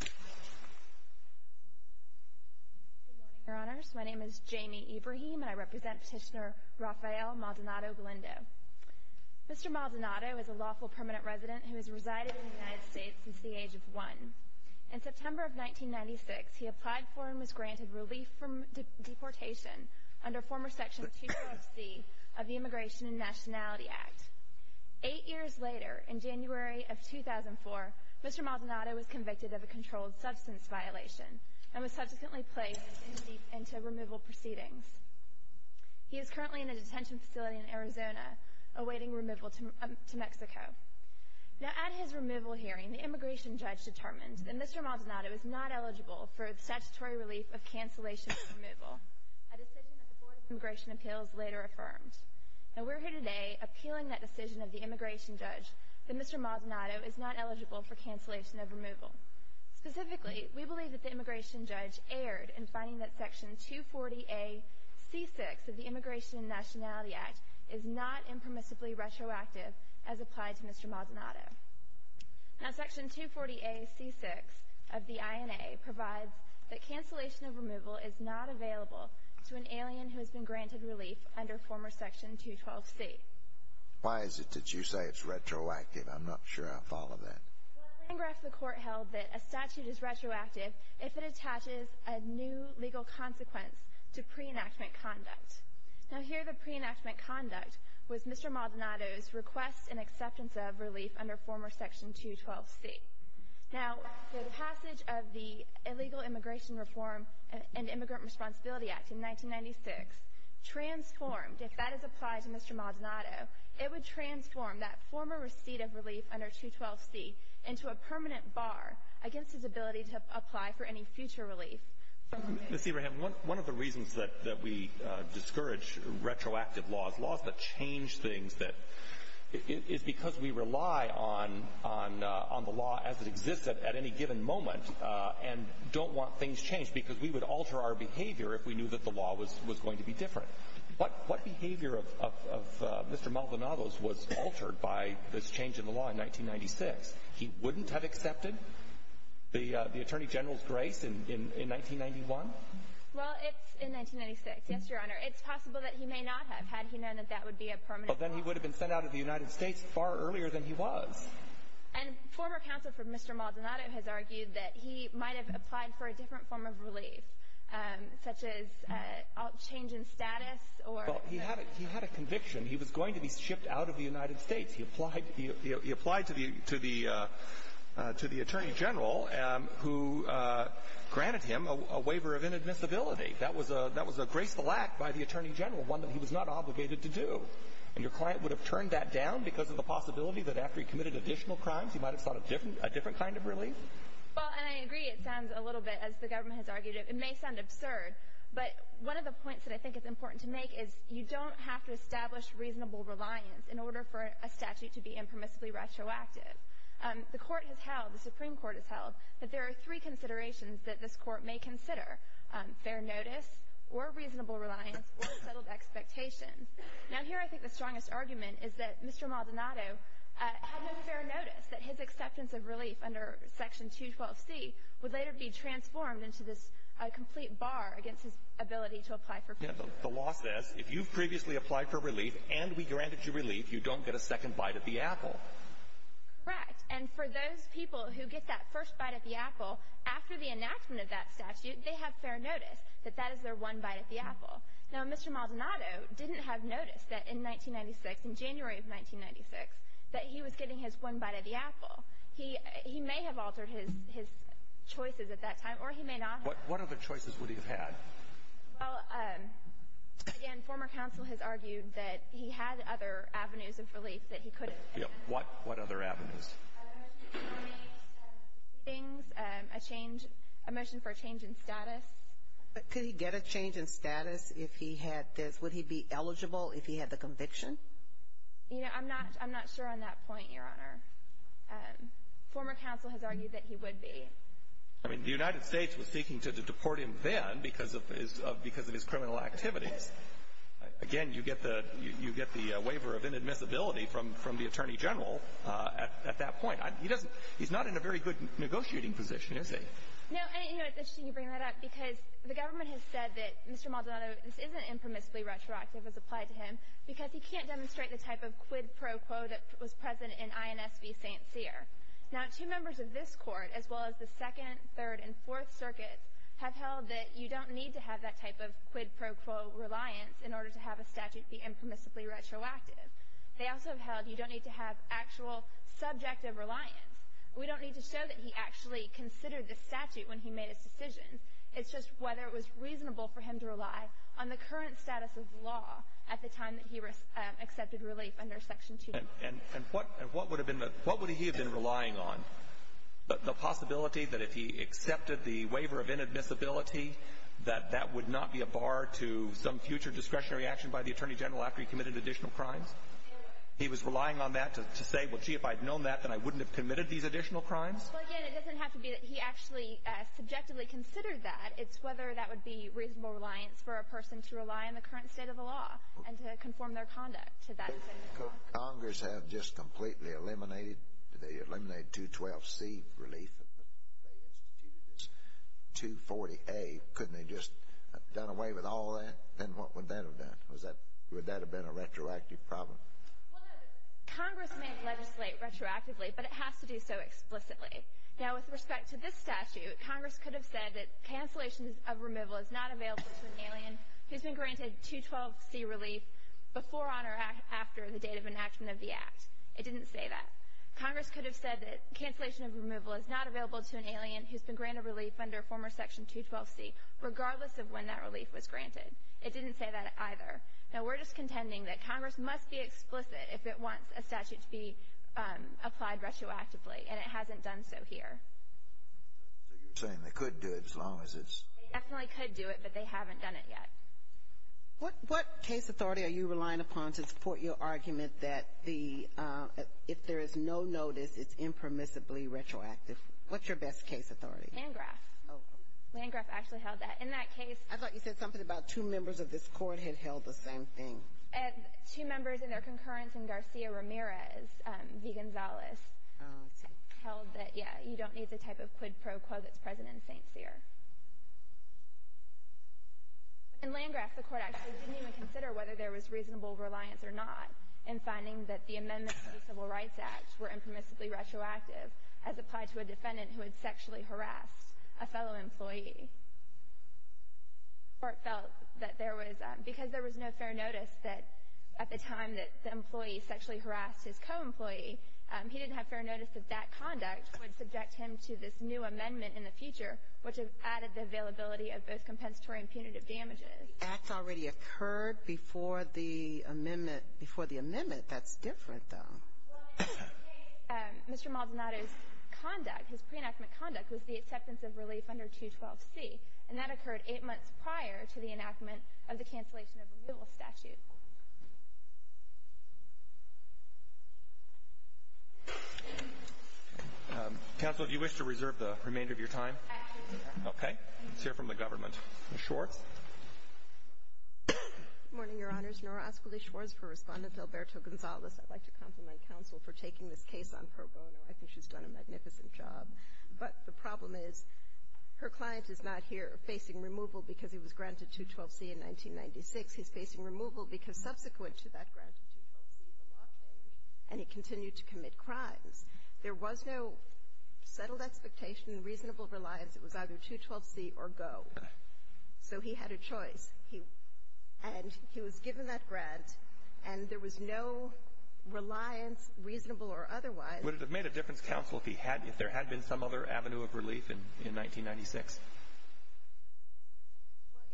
Good morning, Your Honors. My name is Jamie Ibrahim, and I represent Petitioner Rafael Maldonado-Galindo. Mr. Maldonado is a lawful permanent resident who has resided in the United States since the age of one. In September of 1996, he applied for and was granted relief from deportation under former Section 246 of the Immigration and Nationality Act. Eight years later, in January of 2004, Mr. Maldonado was convicted of a controlled substance violation and was subsequently placed into removal proceedings. He is currently in a detention facility in Arizona, awaiting removal to Mexico. At his removal hearing, the immigration judge determined that Mr. Maldonado is not eligible for statutory relief of cancellation of removal, a decision that the Board of Immigration Appeals later affirmed. We are here today appealing that decision of the immigration judge that Mr. Maldonado is not eligible for cancellation of removal. Specifically, we believe that the immigration judge erred in finding that Section 240A.C.6 of the Immigration and Nationality Act is not impermissibly retroactive as applied to Mr. Maldonado. Now, Section 240A.C.6 of the INA provides that cancellation of removal is not available to an alien who has been granted relief under former Section 212C. Why is it that you say it's retroactive? I'm not sure I follow that. Well, the line graph of the court held that a statute is retroactive if it attaches a new legal consequence to pre-enactment conduct. Now, here the pre-enactment conduct was Mr. Maldonado's request and acceptance of relief under former Section 212C. Now, the passage of the Illegal Immigration Reform and Immigrant Responsibility Act in 1996 transformed, if that is applied to Mr. Maldonado, it would transform that former receipt of relief under 212C into a permanent bar against his ability to apply for any future relief. Ms. Ebrahim, one of the reasons that we discourage retroactive laws, laws that change things, is because we rely on the law as it exists at any given moment and don't want things changed, because we would alter our behavior if we knew that the law was going to be different. What behavior of Mr. Maldonado's was altered by this change in the law in 1996? He wouldn't have accepted the Attorney General's grace in 1991? Well, it's in 1996, yes, Your Honor. It's possible that he may not have, had he known that that would be a permanent bar. Well, then he would have been sent out of the United States far earlier than he was. And former counsel for Mr. Maldonado has argued that he might have applied for a different form of relief, such as a change in status or the- Well, he had a conviction. He was going to be shipped out of the United States. He applied to the Attorney General, who granted him a waiver of inadmissibility. That was a graceful act by the Attorney General, one that he was not obligated to do. And your client would have turned that down because of the possibility that after he committed additional crimes, he might have sought a different kind of relief? Well, and I agree it sounds a little bit, as the government has argued, it may sound absurd. But one of the points that I think is important to make is you don't have to establish reasonable reliance in order for a statute to be impermissibly retroactive. The Court has held, the Supreme Court has held, that there are three considerations that this Court may consider, fair notice or reasonable reliance or settled expectations. Now, here I think the strongest argument is that Mr. Maldonado had no fair notice that his acceptance of relief under Section 212C would later be transformed into this complete bar against his ability to apply for relief. The law says if you've previously applied for relief and we granted you relief, you don't get a second bite at the apple. Correct. And for those people who get that first bite at the apple, after the enactment of that statute, they have fair notice that that is their one bite at the apple. Now, Mr. Maldonado didn't have notice that in 1996, in January of 1996, that he was getting his one bite at the apple. He may have altered his choices at that time, or he may not have. What other choices would he have had? Well, again, former counsel has argued that he had other avenues of relief that he could have. What other avenues? A motion to change things, a motion for a change in status. Could he get a change in status if he had this? Would he be eligible if he had the conviction? You know, I'm not sure on that point, Your Honor. Former counsel has argued that he would be. I mean, the United States was seeking to deport him then because of his criminal activities. Again, you get the waiver of inadmissibility from the Attorney General at that point. He's not in a very good negotiating position, is he? No, and, you know, it's interesting you bring that up because the government has said that Mr. Maldonado, this isn't impermissibly retroactive as applied to him, because he can't demonstrate the type of quid pro quo that was present in INS v. St. Cyr. Now, two members of this Court, as well as the Second, Third, and Fourth Circuits, have held that you don't need to have that type of quid pro quo reliance in order to have a statute be impermissibly retroactive. They also have held you don't need to have actual subjective reliance. We don't need to show that he actually considered this statute when he made his decision. It's just whether it was reasonable for him to rely on the current status of law at the time that he accepted relief under Section 2. And what would he have been relying on? The possibility that if he accepted the waiver of inadmissibility, that that would not be a bar to some future discretionary action by the Attorney General after he committed additional crimes? He was relying on that to say, well, gee, if I had known that, then I wouldn't have committed these additional crimes? Well, again, it doesn't have to be that he actually subjectively considered that. It's whether that would be reasonable reliance for a person to rely on the current state of the law and to conform their conduct to that decision. Could Congress have just completely eliminated, did they eliminate 212C relief and they instituted this 240A? Couldn't they have just done away with all that? Then what would that have done? Would that have been a retroactive problem? Congress may legislate retroactively, but it has to do so explicitly. Now, with respect to this statute, Congress could have said that cancellation of removal is not available to an alien who's been granted 212C relief before, on, or after the date of enactment of the Act. It didn't say that. Congress could have said that cancellation of removal is not available to an alien who's been granted relief under former Section 212C, regardless of when that relief was granted. It didn't say that either. Now, we're just contending that Congress must be explicit if it wants a statute to be applied retroactively, and it hasn't done so here. So you're saying they could do it as long as it's… They definitely could do it, but they haven't done it yet. What case authority are you relying upon to support your argument that the, if there is no notice, it's impermissibly retroactive? What's your best case authority? Landgraf. Oh. Landgraf actually held that. In that case… I thought you said something about two members of this Court had held the same thing. Two members in their concurrence in Garcia-Ramirez v. Gonzalez held that, yeah, you don't need the type of quid pro quo that's present in St. Cyr. In Landgraf, the Court actually didn't even consider whether there was reasonable reliance or not in finding that the amendments to the Civil Rights Act were impermissibly retroactive as applied to a defendant who had sexually harassed a fellow employee. The Court felt that there was, because there was no fair notice that at the time that the employee sexually harassed his co-employee, he didn't have fair notice that that conduct would subject him to this new amendment in the future, which added the availability of both compensatory and punitive damages. The act already occurred before the amendment. Before the amendment. That's different, though. Well, in that case, Mr. Maldonado's conduct, his pre-enactment conduct, was the acceptance of relief under 212C, and that occurred eight months prior to the enactment of the cancellation of removal statute. Counsel, if you wish to reserve the remainder of your time. Okay. Let's hear from the government. Ms. Schwartz. Good morning, Your Honors. Nora Ascoli-Schwartz for Respondent Alberto Gonzalez. I'd like to compliment counsel for taking this case on pro bono. I think she's done a magnificent job. But the problem is her client is not here facing removal because he was granted 212C in 1996. He's facing removal because subsequent to that granted 212C, the law changed, and he continued to commit crimes. There was no settled expectation, reasonable reliance. It was either 212C or go. So he had a choice. And he was given that grant, and there was no reliance, reasonable or otherwise. Would it have made a difference, counsel, if there had been some other avenue of relief in 1996?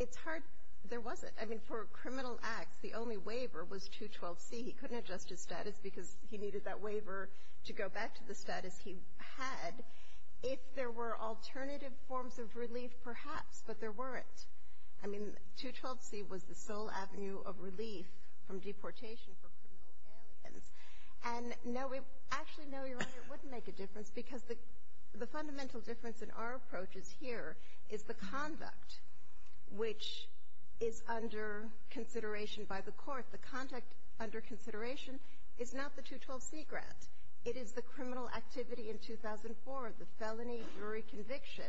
It's hard. There wasn't. I mean, for criminal acts, the only waiver was 212C. He couldn't adjust his status because he needed that waiver to go back to the status he had if there were alternative forms of relief, perhaps, but there weren't. I mean, 212C was the sole avenue of relief from deportation for criminal aliens. And actually, no, Your Honor, it wouldn't make a difference because the fundamental difference in our approach is here is the conduct which is under consideration by the court. The conduct under consideration is not the 212C grant. It is the criminal activity in 2004, the felony jury conviction.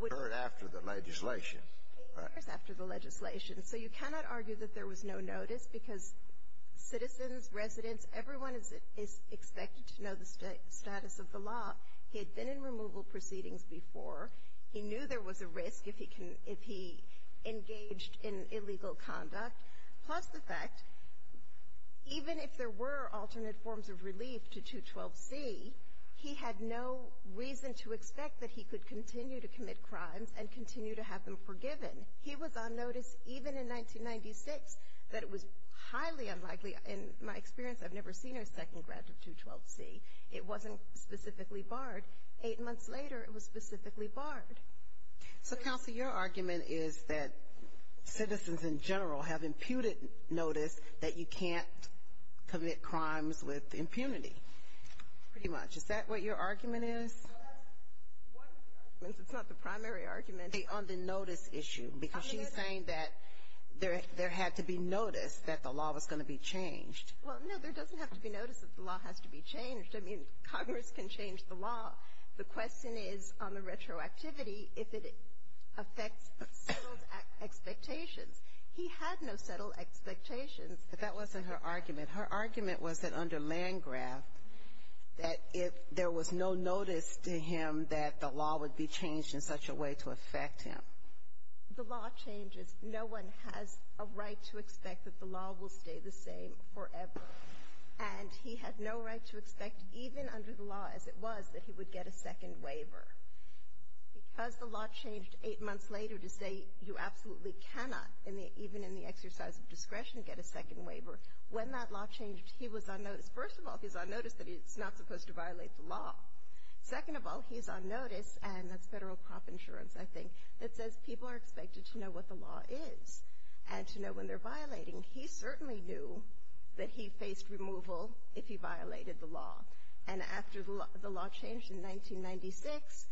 It occurred after the legislation. It occurs after the legislation. So you cannot argue that there was no notice because citizens, residents, everyone is expected to know the status of the law. He had been in removal proceedings before. He knew there was a risk if he engaged in illegal conduct. Plus the fact, even if there were alternate forms of relief to 212C, he had no reason to expect that he could continue to commit crimes and continue to have them forgiven. He was on notice even in 1996 that it was highly unlikely. In my experience, I've never seen a second grant of 212C. It wasn't specifically barred. Eight months later, it was specifically barred. So, Counsel, your argument is that citizens in general have imputed notice that you can't commit crimes with impunity. Pretty much. Is that what your argument is? Well, that's one of the arguments. It's not the primary argument. On the notice issue. Because she's saying that there had to be notice that the law was going to be changed. Well, no, there doesn't have to be notice that the law has to be changed. I mean, Congress can change the law. The question is on the retroactivity if it affects settled expectations. He had no settled expectations. But that wasn't her argument. Her argument was that under Landgraf, that if there was no notice to him that the law would be changed in such a way to affect him. The law changes. No one has a right to expect that the law will stay the same forever. And he had no right to expect, even under the law as it was, that he would get a second waiver. Because the law changed eight months later to say you absolutely cannot, even in the First of all, he's on notice that it's not supposed to violate the law. Second of all, he's on notice, and that's Federal Crop Insurance, I think, that says people are expected to know what the law is and to know when they're violating. He certainly knew that he faced removal if he violated the law. And after the law changed in 1996,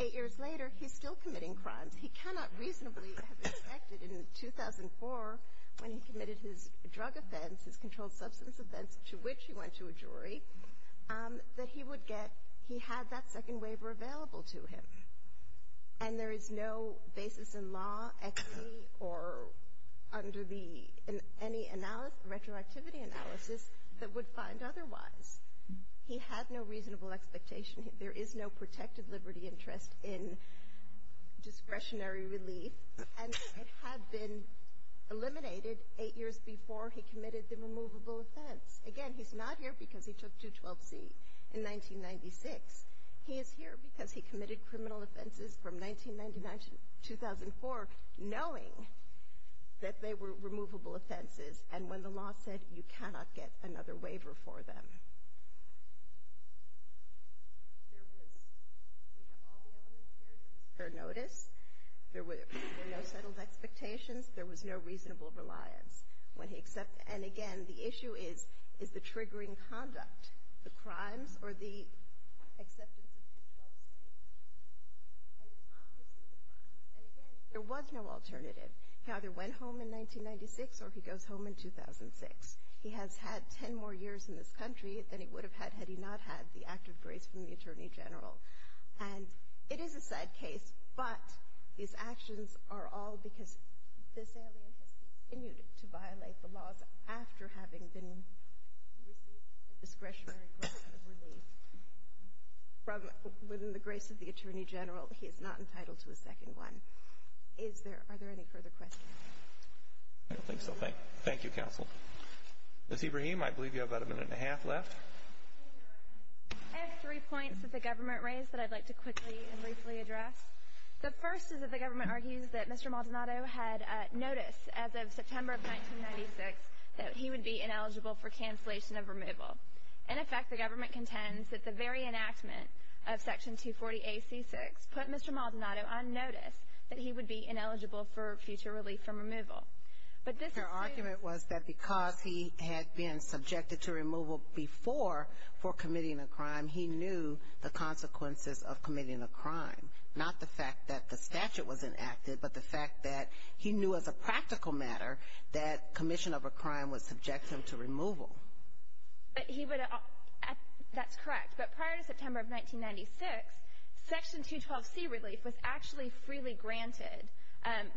eight years later, he's still committing crimes. He cannot reasonably have expected in 2004, when he committed his drug offense, his controlled substance offense, to which he went to a jury, that he would get — he had that second waiver available to him. And there is no basis in law, XE, or under the — any analysis, retroactivity analysis, that would find otherwise. He had no reasonable expectation. There is no protected liberty interest in discretionary relief. And it had been eliminated eight years before he committed the removable offense. Again, he's not here because he took 212C in 1996. He is here because he committed criminal offenses from 1999 to 2004, knowing that they were removable offenses, and when the law said you cannot get another waiver for them. There was — we have all the elements here. There was fair notice. There were no settled expectations. There was no reasonable reliance. When he accepted — and again, the issue is, is the triggering conduct, the crimes, or the acceptance of 212C? And it's obviously the crimes. And again, there was no alternative. He either went home in 1996 or he goes home in 2006. He has had 10 more years in this country than he would have had had he not had the active grace from the Attorney General. And it is a sad case, but these actions are all because this alien has continued to violate the laws after having been received a discretionary grant of relief. From — within the grace of the Attorney General, he is not entitled to a second one. Is there — are there any further questions? I don't think so. Thank you, Counsel. Ms. Ibrahim, I believe you have about a minute and a half left. I have three points that the government raised that I'd like to quickly and briefly address. The first is that the government argues that Mr. Maldonado had notice as of September of 1996 that he would be ineligible for cancellation of removal. In effect, the government contends that the very enactment of Section 240AC6 put Mr. Maldonado on notice that he would be ineligible for future relief from removal. But this is — Their argument was that because he had been subjected to removal before for committing a crime, he knew the consequences of committing a crime, not the fact that the statute was enacted, but the fact that he knew as a practical matter that commission of a crime would subject him to removal. But he would — that's correct. But prior to September of 1996, Section 212C relief was actually freely granted.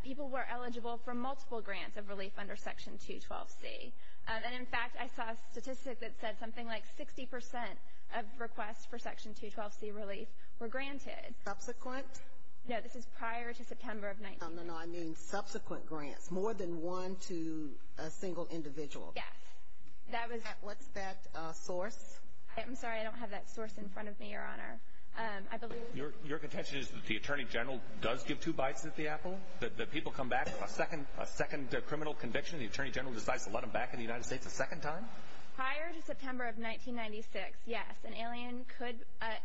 People were eligible for multiple grants of relief under Section 212C. And, in fact, I saw a statistic that said something like 60 percent of requests for Section 212C relief were granted. Subsequent? No, this is prior to September of — No, no, no, I mean subsequent grants, more than one to a single individual. Yes. That was — What's that source? I'm sorry. I don't have that source in front of me, Your Honor. I believe — Your contention is that the attorney general does give two bites at the apple, that people come back a second criminal conviction, and the attorney general decides to let them back in the United States a second time? Prior to September of 1996, yes. An alien could,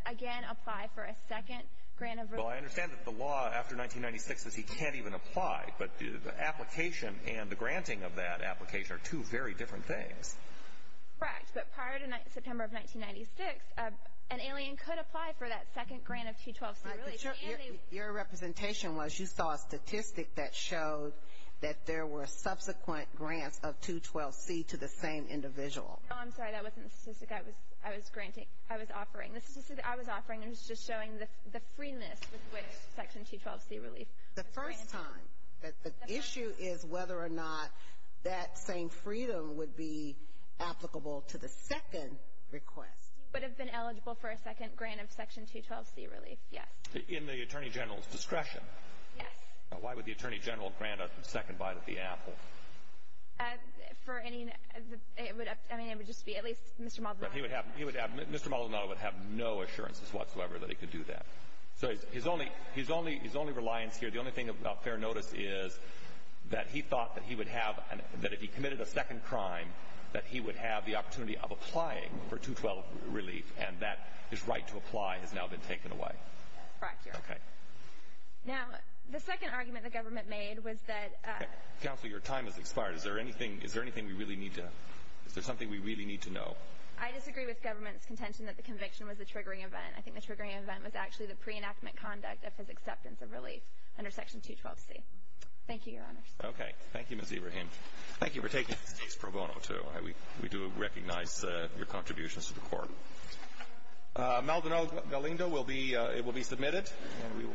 again, apply for a second grant of relief. Well, I understand that the law after 1996 says he can't even apply, but the application and the granting of that application are two very different things. Correct. But prior to September of 1996, an alien could apply for that second grant of 212C relief. Right, but your representation was you saw a statistic that showed that there were subsequent grants of 212C to the same individual. No, I'm sorry. That wasn't the statistic I was granting. I was offering. The statistic that I was offering was just showing the freeness with which Section 212C relief was granted. The first time. The issue is whether or not that same freedom would be applicable to the second request. He would have been eligible for a second grant of Section 212C relief, yes. In the attorney general's discretion? Yes. Why would the attorney general grant a second bite at the apple? For any — I mean, it would just be at least Mr. Maldonado. He would have — Mr. Maldonado would have no assurances whatsoever that he could do that. So his only reliance here, the only thing of fair notice is that he thought that he would have — that if he committed a second crime, that he would have the opportunity of applying for 212 relief, and that his right to apply has now been taken away. Correct, Your Honor. Okay. Now, the second argument the government made was that — Counsel, your time has expired. Is there anything we really need to — is there something we really need to know? I disagree with government's contention that the conviction was a triggering event. I think the triggering event was actually the pre-enactment conduct of his acceptance of relief under Section 212C. Thank you, Your Honor. Okay. Thank you, Ms. Ibrahim. Thank you for taking the case, Pro Bono, too. We do recognize your contributions to the court. Maldonado Galindo will be — it will be submitted, and we will close the hearing.